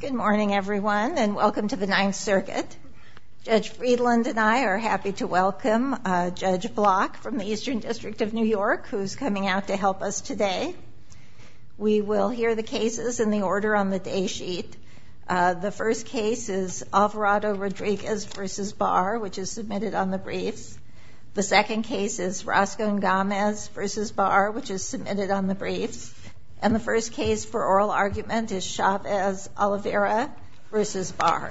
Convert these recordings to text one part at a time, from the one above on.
Good morning everyone and welcome to the Ninth Circuit. Judge Friedland and I are happy to welcome Judge Block from the Eastern District of New York who's coming out to help us today. We will hear the cases in the order on the day sheet. The first case is Alvarado-Rodriguez v. Barr which is submitted on the briefs. The second case is Roscon-Gamez v. Barr which is submitted on the briefs. And the first case for oral argument is Chavez-Olivera v. Barr.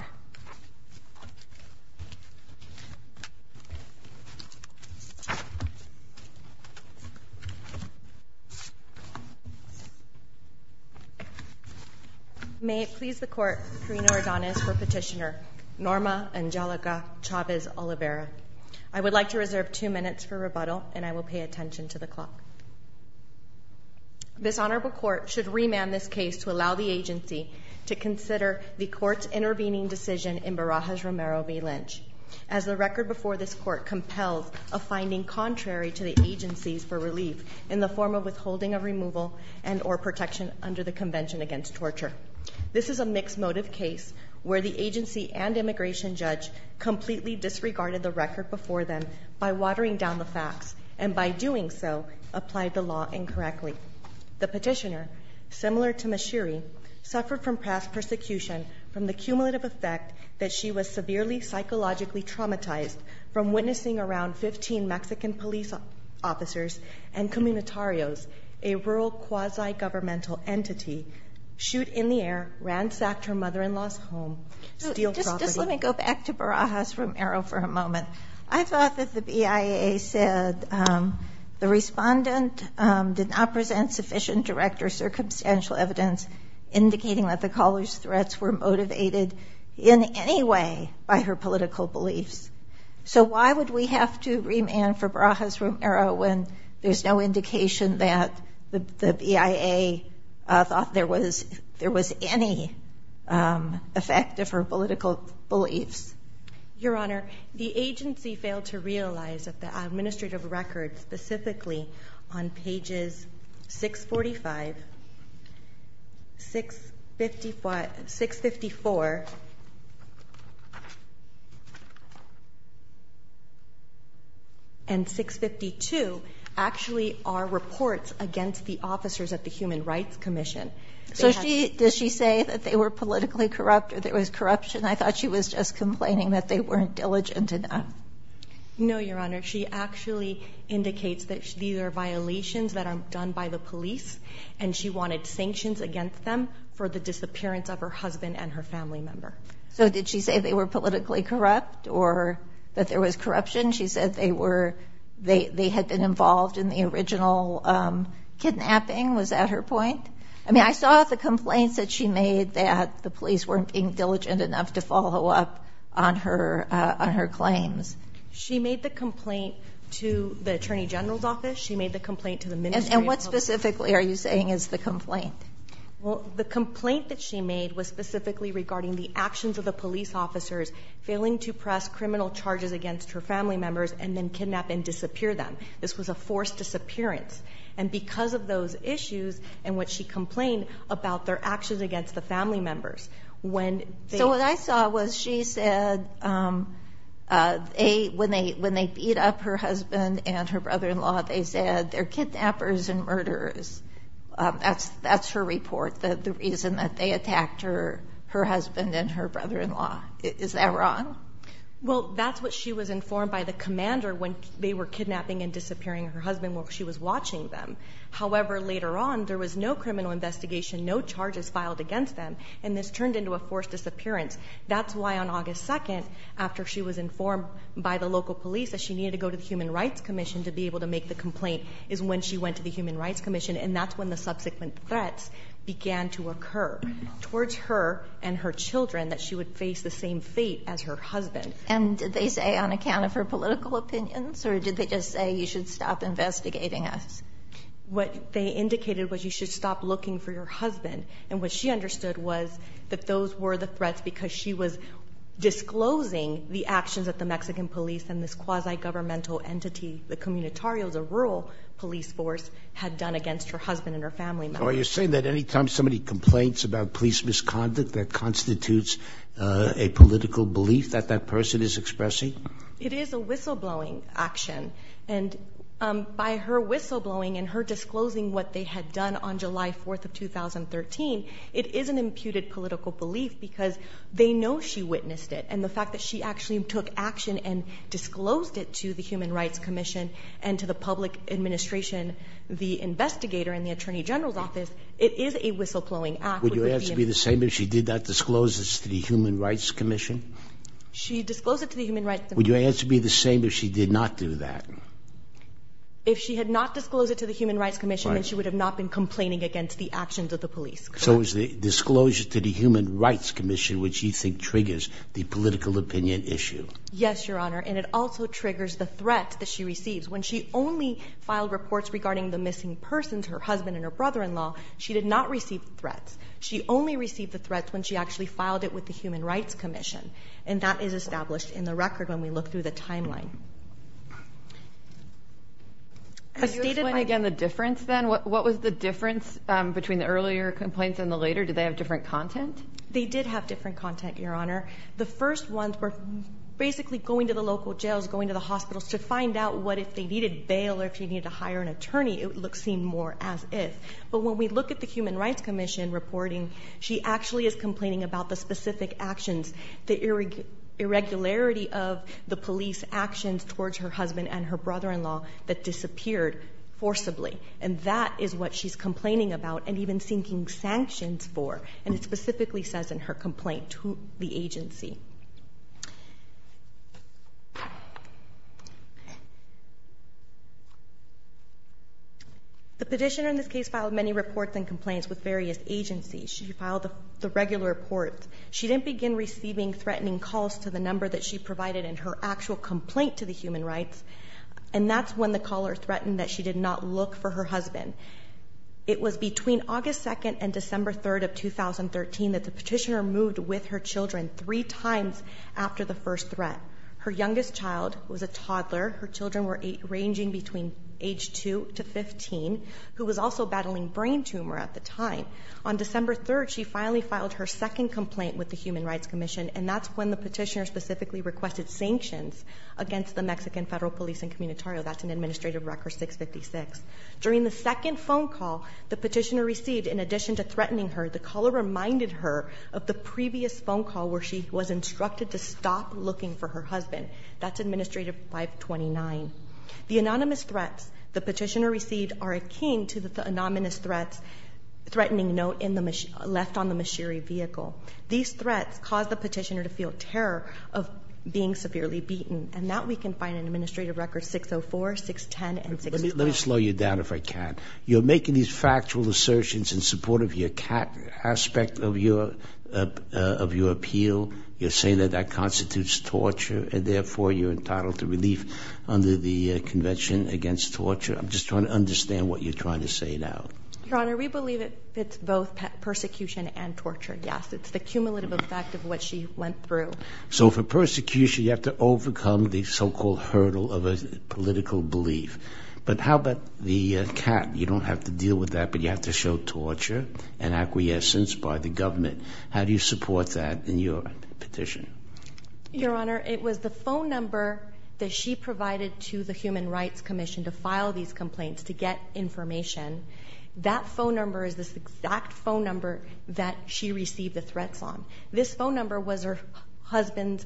May it please the court, Karina Ordonez for petitioner, Norma Angelica Chavez-Olivera. I would like to reserve two minutes for rebuttal and I will pay attention to the clock. This honorable court should remand this case to allow the agency to consider the court's intervening decision in Barajas-Romero v. Lynch. As the record before this court compels a finding contrary to the agencies for relief in the form of withholding of removal and or protection under the convention against torture. This is a mixed motive case where the agency and immigration judge completely disregarded the record before them by watering down the facts, and by doing so, applied the law incorrectly. The petitioner, similar to Ms. Sheery, suffered from past persecution from the cumulative effect that she was severely psychologically traumatized from witnessing around 15 Mexican police officers and communitarios, a rural quasi-governmental entity, shoot in the air, ransacked her mother-in-law's home, steal property. Just let me go back to Barajas-Romero for a moment. I thought that the BIA said the respondent did not present sufficient direct or circumstantial evidence indicating that the caller's threats were motivated in any way by her political beliefs. So why would we have to remand for Barajas-Romero when there's no indication that the BIA thought there was any effect of her political beliefs? Your Honor, the agency failed to realize that the administrative record, specifically on pages 645, 654, and 652, actually are reports against the officers at the Human Rights Commission. So does she say that they were politically corrupt or there was corruption? I thought she was just complaining that they weren't diligent enough. No, Your Honor. She actually indicates that these are violations that are done by the police, and she wanted sanctions against them for the disappearance of her husband and her family member. So did she say they were politically corrupt or that there was corruption? She said they had been involved in the original kidnapping. Was that her point? I mean, I saw the complaints that she made that the police weren't being diligent enough to follow up on her claims. She made the complaint to the Attorney General's office. She made the complaint to the Ministry of Public Safety. And what specifically are you saying is the complaint? Well, the complaint that she made was specifically regarding the actions of the police officers failing to press criminal charges against her family members and then kidnap and disappear them. This was a forced disappearance. And because of those issues and what she complained about their actions against the family members, when they- So what I saw was she said when they beat up her husband and her brother-in-law, they said they're kidnappers and murderers. That's her report, the reason that they attacked her husband and her brother-in-law. Is that wrong? Well, that's what she was informed by the commander when they were kidnapping and disappearing her husband while she was watching them. However, later on, there was no criminal investigation, no charges filed against them, and this turned into a forced disappearance. That's why on August 2nd, after she was informed by the local police that she needed to go to the Human Rights Commission to be able to make the complaint, is when she went to the Human Rights Commission, and that's when the subsequent threats began to occur. Towards her and her children, that she would face the same fate as her husband. And did they say on account of her political opinions, or did they just say you should stop investigating us? What they indicated was you should stop looking for your husband. And what she understood was that those were the threats because she was disclosing the actions of the Mexican police and this quasi-governmental entity, the comunitarios, a rural police force, had done against her husband and her family members. So are you saying that any time somebody complains about police misconduct, that constitutes a political belief that that person is expressing? It is a whistleblowing action, and by her whistleblowing and her disclosing what they had done on July 4th of 2013, it is an imputed political belief because they know she witnessed it. And the fact that she actually took action and disclosed it to the Human Rights Commission and to the public administration, the investigator in the Attorney General's office, it is a whistleblowing act. Would your answer be the same if she did not disclose this to the Human Rights Commission? She disclosed it to the Human Rights Commission. Would your answer be the same if she did not do that? If she had not disclosed it to the Human Rights Commission, then she would have not been complaining against the actions of the police. So is the disclosure to the Human Rights Commission what you think triggers the political opinion issue? Yes, Your Honor, and it also triggers the threat that she receives. When she only filed reports regarding the missing persons, her husband and her brother-in-law, she did not receive threats. She only received the threats when she actually filed it with the Human Rights Commission. And that is established in the record when we look through the timeline. A stated- Can you explain again the difference then? What was the difference between the earlier complaints and the later? Did they have different content? They did have different content, Your Honor. The first ones were basically going to the local jails, going to the hospitals to find out what if they needed bail or if they needed to hire an attorney. It would seem more as if. But when we look at the Human Rights Commission reporting, she actually is complaining about the specific actions, the irregularity of the police actions towards her husband and her brother-in-law that disappeared forcibly. And that is what she's complaining about and even seeking sanctions for. And it specifically says in her complaint to the agency. The petitioner in this case filed many reports and complaints with various agencies. She filed the regular reports. She didn't begin receiving threatening calls to the number that she provided in her actual complaint to the human rights. And that's when the caller threatened that she did not look for her husband. It was between August 2nd and December 3rd of 2013 that the petitioner moved with her children three times after the first threat. Her youngest child was a toddler. Her children were ranging between age two to 15, who was also battling brain tumor at the time. On December 3rd, she finally filed her second complaint with the Human Rights Commission. And that's when the petitioner specifically requested sanctions against the Mexican Federal Police and Communitario. That's an administrative record 656. During the second phone call the petitioner received, in addition to threatening her, the caller reminded her of the previous phone call where she was instructed to stop looking for her husband. That's administrative 529. The anonymous threats the petitioner received are akin to the anonymous threats threatening note left on the machinery vehicle. These threats caused the petitioner to feel terror of being severely beaten. And that we can find in administrative records 604, 610, and 612. Let me slow you down if I can. You're making these factual assertions in support of your aspect of your appeal. You're saying that that constitutes torture, and therefore you're entitled to relief under the Convention Against Torture. I'm just trying to understand what you're trying to say now. Your Honor, we believe it's both persecution and torture, yes. It's the cumulative effect of what she went through. So for persecution, you have to overcome the so-called hurdle of a political belief. But how about the cap? You don't have to deal with that, but you have to show torture and acquiescence by the government. How do you support that in your petition? Your Honor, it was the phone number that she provided to the Human Rights Commission to file these complaints to get information. That phone number is this exact phone number that she received the threats on. This phone number was her husband's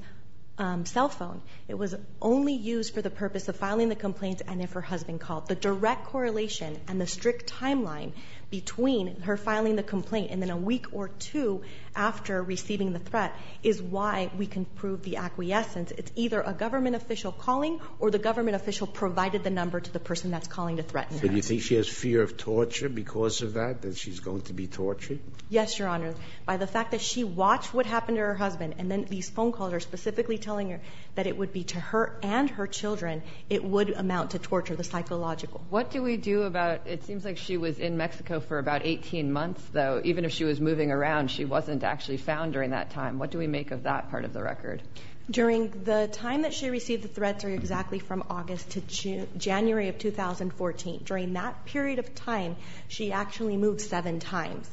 cell phone. It was only used for the purpose of filing the complaints and if her husband called. The direct correlation and the strict timeline between her filing the complaint and then a week or two after receiving the threat is why we can prove the acquiescence. It's either a government official calling or the government official provided the number to the person that's calling to threaten her. But you think she has fear of torture because of that, that she's going to be tortured? Yes, Your Honor. By the fact that she watched what happened to her husband, and then these phone calls are specifically telling her that it would be to her and her children. It would amount to torture, the psychological. What do we do about, it seems like she was in Mexico for about 18 months though. Even if she was moving around, she wasn't actually found during that time. What do we make of that part of the record? During the time that she received the threats are exactly from August to January of 2014. During that period of time, she actually moved seven times.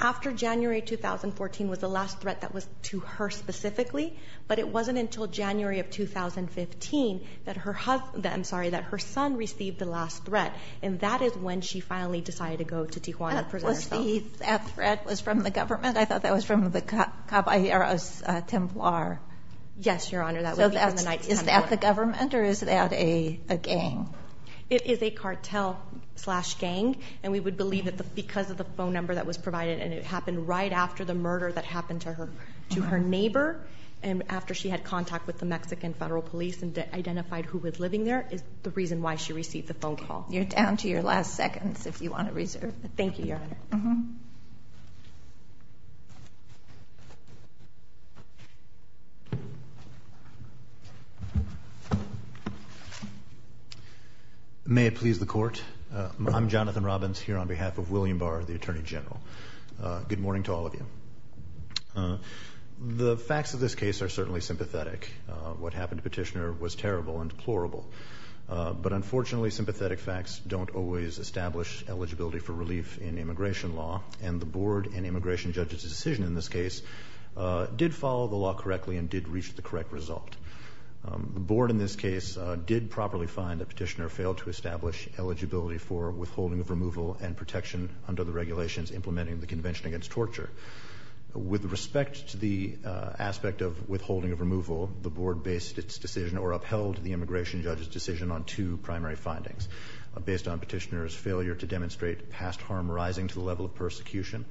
After January 2014 was the last threat that was to her specifically, but it wasn't until January of 2015 that her son received the last threat. And that is when she finally decided to go to Tijuana to present herself. That threat was from the government? I thought that was from the Caballeros Templar. Yes, Your Honor, that was even the Knights Templar. Is that the government or is that a gang? It is a cartel slash gang. And we would believe that because of the phone number that was provided, and it happened right after the murder that happened to her neighbor. And after she had contact with the Mexican Federal Police and identified who was living there, is the reason why she received the phone call. You're down to your last seconds if you want to reserve. Thank you, Your Honor. May it please the court. I'm Jonathan Robbins here on behalf of William Barr, the Attorney General. Good morning to all of you. The facts of this case are certainly sympathetic. What happened to Petitioner was terrible and deplorable. But unfortunately, sympathetic facts don't always establish eligibility for relief in immigration law. And the board and immigration judge's decision in this case did follow the law correctly and did reach the correct result. The board in this case did properly find that Petitioner failed to establish eligibility for withholding of removal and protection under the regulations implementing the Convention Against Torture. With respect to the aspect of withholding of removal, the board based its decision or upheld the immigration judge's decision on two primary findings. Based on Petitioner's failure to demonstrate past harm rising to the level of persecution.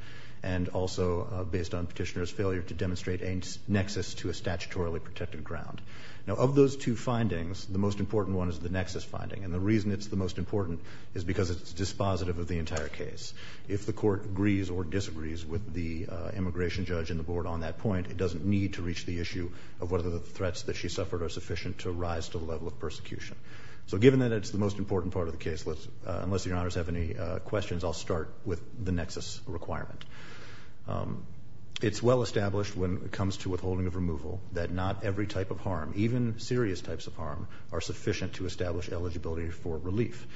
And also based on Petitioner's failure to demonstrate a nexus to a statutorily protected ground. Now of those two findings, the most important one is the nexus finding. And the reason it's the most important is because it's dispositive of the entire case. If the court agrees or disagrees with the immigration judge and the board on that point, it doesn't need to reach the issue of whether the threats that she suffered are sufficient to rise to the level of persecution. So given that it's the most important part of the case, unless your honors have any questions, I'll start with the nexus requirement. It's well established when it comes to withholding of removal that not every type of harm, even serious types of harm, are sufficient to establish eligibility for relief.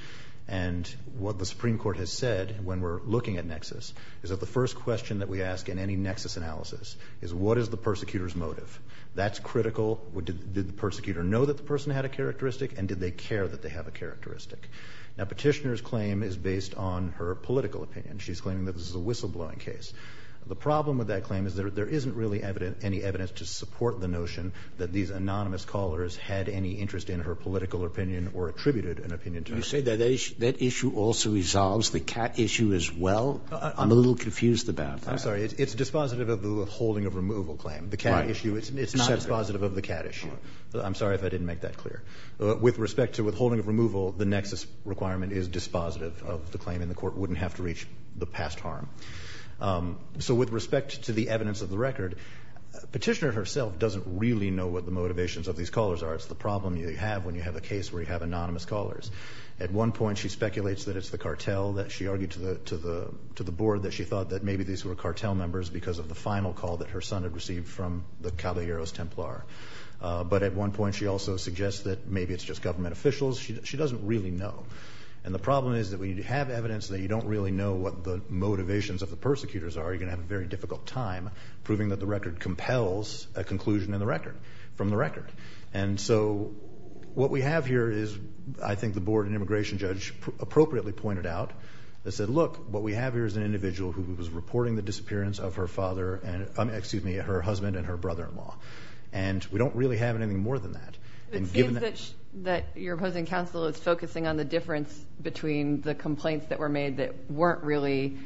And what the Supreme Court has said when we're looking at nexus is that the first question that we ask in any nexus analysis is what is the persecutor's motive? That's critical, did the persecutor know that the person had a characteristic and did they care that they have a characteristic? Now Petitioner's claim is based on her political opinion. She's claiming that this is a whistle blowing case. The problem with that claim is that there isn't really any evidence to support the notion that these anonymous callers had any interest in her political opinion or attributed an opinion to her. You say that issue also resolves the cat issue as well? I'm a little confused about that. I'm sorry, it's dispositive of the withholding of removal claim. The cat issue, it's not dispositive of the cat issue. I'm sorry if I didn't make that clear. With respect to withholding of removal, the nexus requirement is dispositive of the claim and the court wouldn't have to reach the past harm. So with respect to the evidence of the record, Petitioner herself doesn't really know what the motivations of these callers are. It's the problem you have when you have a case where you have anonymous callers. At one point she speculates that it's the cartel that she argued to the board that she thought that maybe these were cartel members because of the final call that her son had received from the Caballeros Templar. But at one point she also suggests that maybe it's just government officials. She doesn't really know. And the problem is that when you have evidence that you don't really know what the motivations of the persecutors are, you're going to have a very difficult time proving that the record compels a conclusion from the record. And so what we have here is, I think the board and immigration judge appropriately pointed out. They said, look, what we have here is an individual who was reporting the disappearance of her father and, excuse me, her husband and her brother-in-law. And we don't really have anything more than that. And given that- It seems that your opposing counsel is focusing on the difference between the complaints that were made that weren't really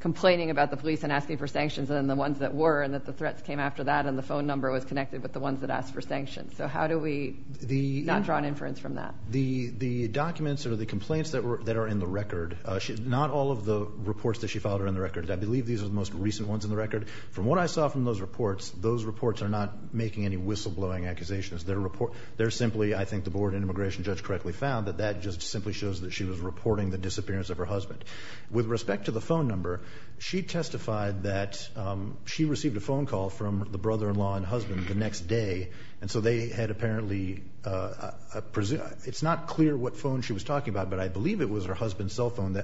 complaining about the police and asking for sanctions than the ones that were and that the threats came after that and the phone number was connected with the ones that asked for sanctions. So how do we not draw an inference from that? The documents or the complaints that are in the record, not all of the reports that she filed are in the record. I believe these are the most recent ones in the record. From what I saw from those reports, those reports are not making any whistle blowing accusations. They're simply, I think the board and immigration judge correctly found, that that just simply shows that she was reporting the disappearance of her husband. With respect to the phone number, she testified that she received a phone call from the brother-in-law and husband the next day. And so they had apparently, it's not clear what phone she was talking about, but I believe it was her husband's cell phone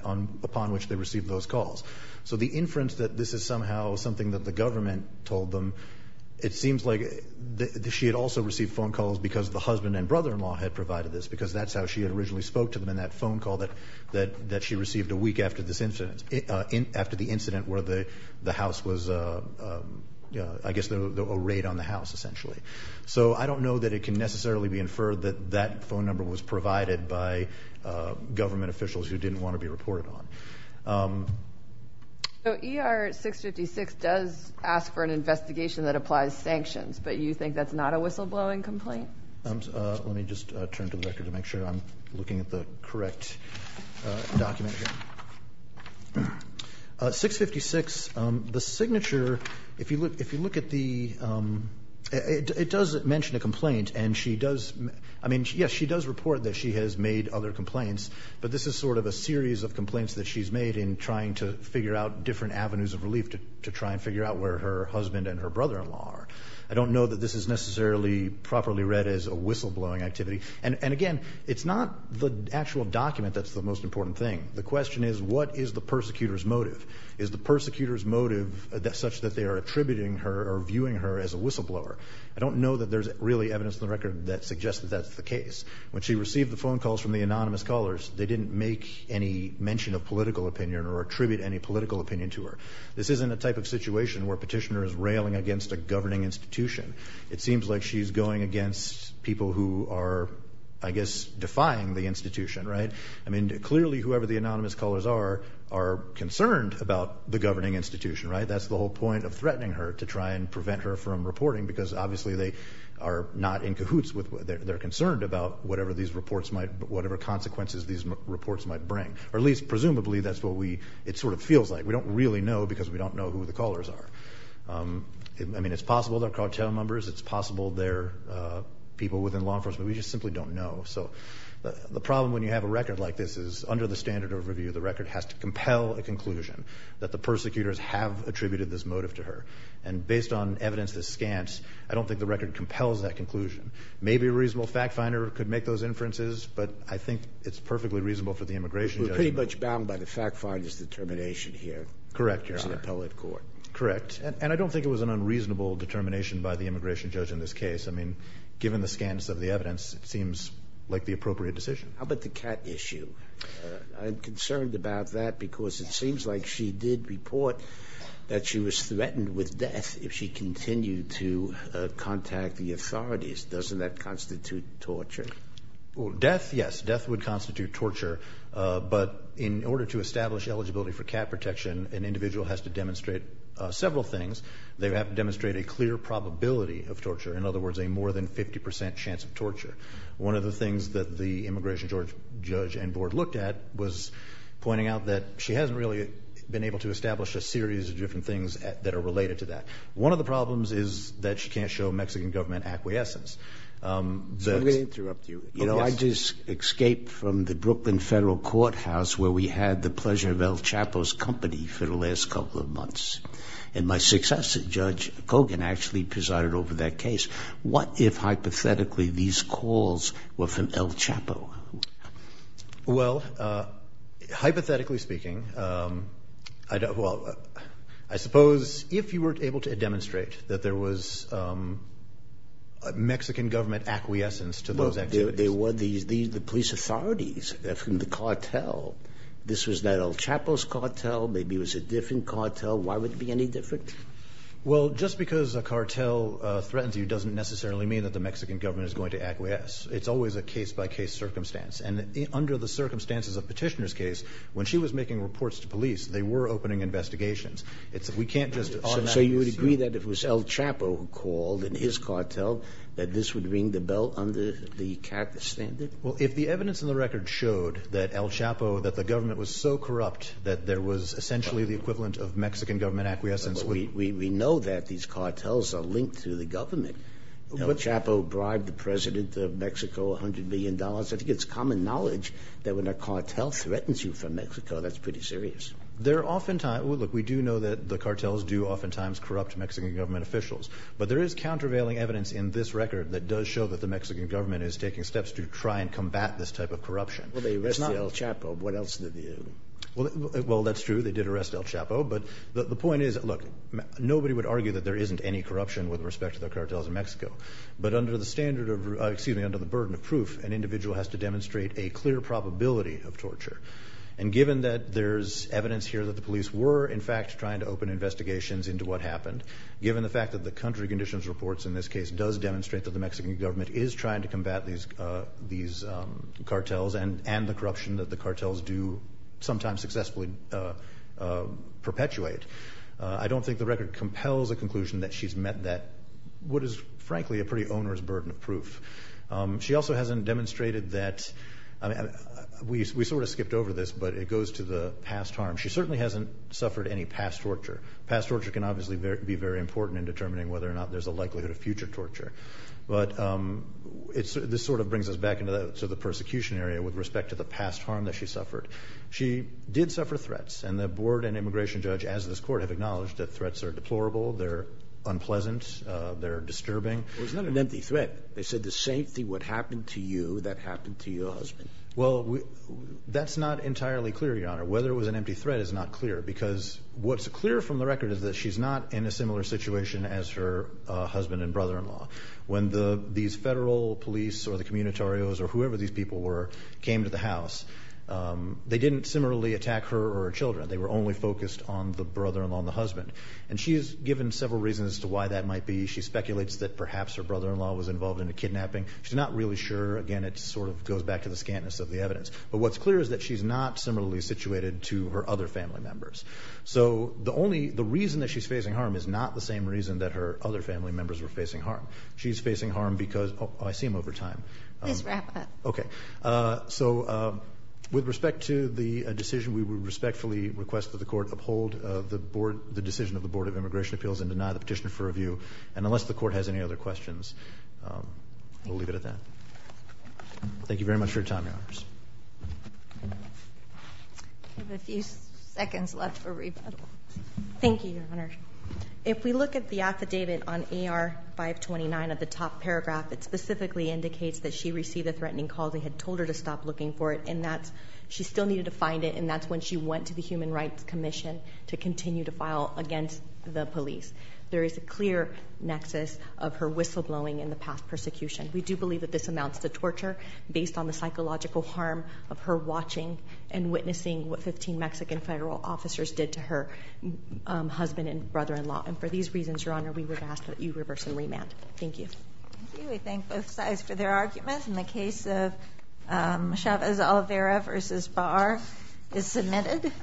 upon which they received those calls. So the inference that this is somehow something that the government told them, it seems like she had also received phone calls because the husband and brother-in-law had provided this. Because that's how she had originally spoke to them in that phone call that she received a week after this incident. After the incident where the house was, I guess, a raid on the house, essentially. So I don't know that it can necessarily be inferred that that phone number was provided by government officials who didn't want to be reported on. So ER 656 does ask for an investigation that applies sanctions, but you think that's not a whistle blowing complaint? Let me just turn to the record to make sure I'm looking at the correct document here. 656, the signature, if you look at the, it does mention a complaint and she does. I mean, yes, she does report that she has made other complaints. But this is sort of a series of complaints that she's made in trying to figure out different avenues of relief to try and figure out where her husband and her brother-in-law are. I don't know that this is necessarily properly read as a whistle blowing activity. And again, it's not the actual document that's the most important thing. The question is, what is the persecutor's motive? Is the persecutor's motive such that they are attributing her or viewing her as a whistle blower? I don't know that there's really evidence in the record that suggests that that's the case. When she received the phone calls from the anonymous callers, they didn't make any mention of political opinion or attribute any political opinion to her. This isn't a type of situation where a petitioner is railing against a governing institution. It seems like she's going against people who are, I guess, defying the institution, right? I mean, clearly, whoever the anonymous callers are, are concerned about the governing institution, right? That's the whole point of threatening her to try and prevent her from reporting, because obviously they are not in cahoots with, they're concerned about whatever these reports might, whatever consequences these reports might bring. Or at least, presumably, that's what we, it sort of feels like. We don't really know, because we don't know who the callers are. I mean, it's possible they're cartel members. It's possible they're people within law enforcement. We just simply don't know. So, the problem when you have a record like this is, under the standard overview, the record has to compel a conclusion that the persecutors have attributed this motive to her. And based on evidence that scans, I don't think the record compels that conclusion. Maybe a reasonable fact finder could make those inferences, but I think it's perfectly reasonable for the immigration judge- We're pretty much bound by the fact finder's determination here. Correct, Your Honor. It's the appellate court. Correct, and I don't think it was an unreasonable determination by the immigration judge in this case. I mean, given the scans of the evidence, it seems like the appropriate decision. How about the cat issue? I'm concerned about that, because it seems like she did report that she was threatened with death if she continued to contact the authorities. Doesn't that constitute torture? Well, death, yes. Death would constitute torture, but in order to establish eligibility for cat protection, an individual has to demonstrate several things. They have to demonstrate a clear probability of torture. In other words, a more than 50% chance of torture. One of the things that the immigration judge and board looked at was pointing out that she hasn't really been able to establish a series of different things that are related to that. One of the problems is that she can't show Mexican government acquiescence. I'm going to interrupt you. I just escaped from the Brooklyn Federal Courthouse, where we had the pleasure of El Chapo's company for the last couple of months. And my successor, Judge Cogan, actually presided over that case. What if, hypothetically, these calls were from El Chapo? Well, hypothetically speaking, I suppose, if you were able to demonstrate that there was Mexican government acquiescence to those activities. There were the police authorities from the cartel. This was that El Chapo's cartel. Maybe it was a different cartel. Why would it be any different? Well, just because a cartel threatens you doesn't necessarily mean that the Mexican government is going to acquiesce. It's always a case by case circumstance. And under the circumstances of Petitioner's case, when she was making reports to police, they were opening investigations. It's that we can't just- So you would agree that if it was El Chapo who called in his cartel, that this would ring the bell under the CAAT standard? Well, if the evidence in the record showed that El Chapo, that the government was so corrupt that there was essentially the equivalent of Mexican government acquiescence- We know that these cartels are linked to the government. El Chapo bribed the president of Mexico $100 million. I think it's common knowledge that when a cartel threatens you from Mexico, that's pretty serious. They're oftentimes, look, we do know that the cartels do oftentimes corrupt Mexican government officials. But there is countervailing evidence in this record that does show that the Mexican government is taking steps to try and combat this type of corruption. Well, they arrested El Chapo. What else did they do? Well, that's true. They did arrest El Chapo. But the point is, look, nobody would argue that there isn't any corruption with respect to the cartels in Mexico. But under the standard of, excuse me, under the burden of proof, an individual has to demonstrate a clear probability of torture. And given that there's evidence here that the police were, in fact, trying to open investigations into what happened. Given the fact that the country conditions reports in this case does demonstrate that the Mexican government is trying to combat these cartels. And the corruption that the cartels do sometimes successfully perpetuate. I don't think the record compels a conclusion that she's met that, what is frankly a pretty owner's burden of proof. She also hasn't demonstrated that, we sort of skipped over this, but it goes to the past harm. She certainly hasn't suffered any past torture. Past torture can obviously be very important in determining whether or not there's a likelihood of future torture. But this sort of brings us back into the persecution area with respect to the past harm that she suffered. She did suffer threats, and the board and immigration judge, as this court, have acknowledged that threats are deplorable, they're unpleasant, they're disturbing. It was not an empty threat. They said the same thing would happen to you that happened to your husband. Well, that's not entirely clear, Your Honor. Whether it was an empty threat is not clear, because what's clear from the record is that she's not in a similar situation as her husband and brother-in-law. When these federal police or the communitarios or whoever these people were came to the house, they didn't similarly attack her or her children. They were only focused on the brother-in-law and the husband. And she is given several reasons as to why that might be. She speculates that perhaps her brother-in-law was involved in a kidnapping. She's not really sure. Again, it sort of goes back to the scantness of the evidence. But what's clear is that she's not similarly situated to her other family members. So the reason that she's facing harm is not the same reason that her other family members were facing harm. She's facing harm because, I see him over time. Please wrap up. Okay. So with respect to the decision, we would respectfully request that the court uphold the decision of the Board of Immigration Appeals and deny the petition for review. And unless the court has any other questions, we'll leave it at that. Thank you very much for your time, Your Honors. I have a few seconds left for rebuttal. Thank you, Your Honor. If we look at the affidavit on AR 529 of the top paragraph, it specifically indicates that she received a threatening call, they had told her to stop looking for it. And that she still needed to find it, and that's when she went to the Human Rights Commission to continue to file against the police. There is a clear nexus of her whistleblowing in the past persecution. We do believe that this amounts to torture based on the psychological harm of her watching and witnessing what 15 Mexican federal officers did to her husband and brother-in-law. And for these reasons, Your Honor, we would ask that you reverse and remand. Thank you. We thank both sides for their arguments. And the case of Chavez-Olivera versus Barr is submitted.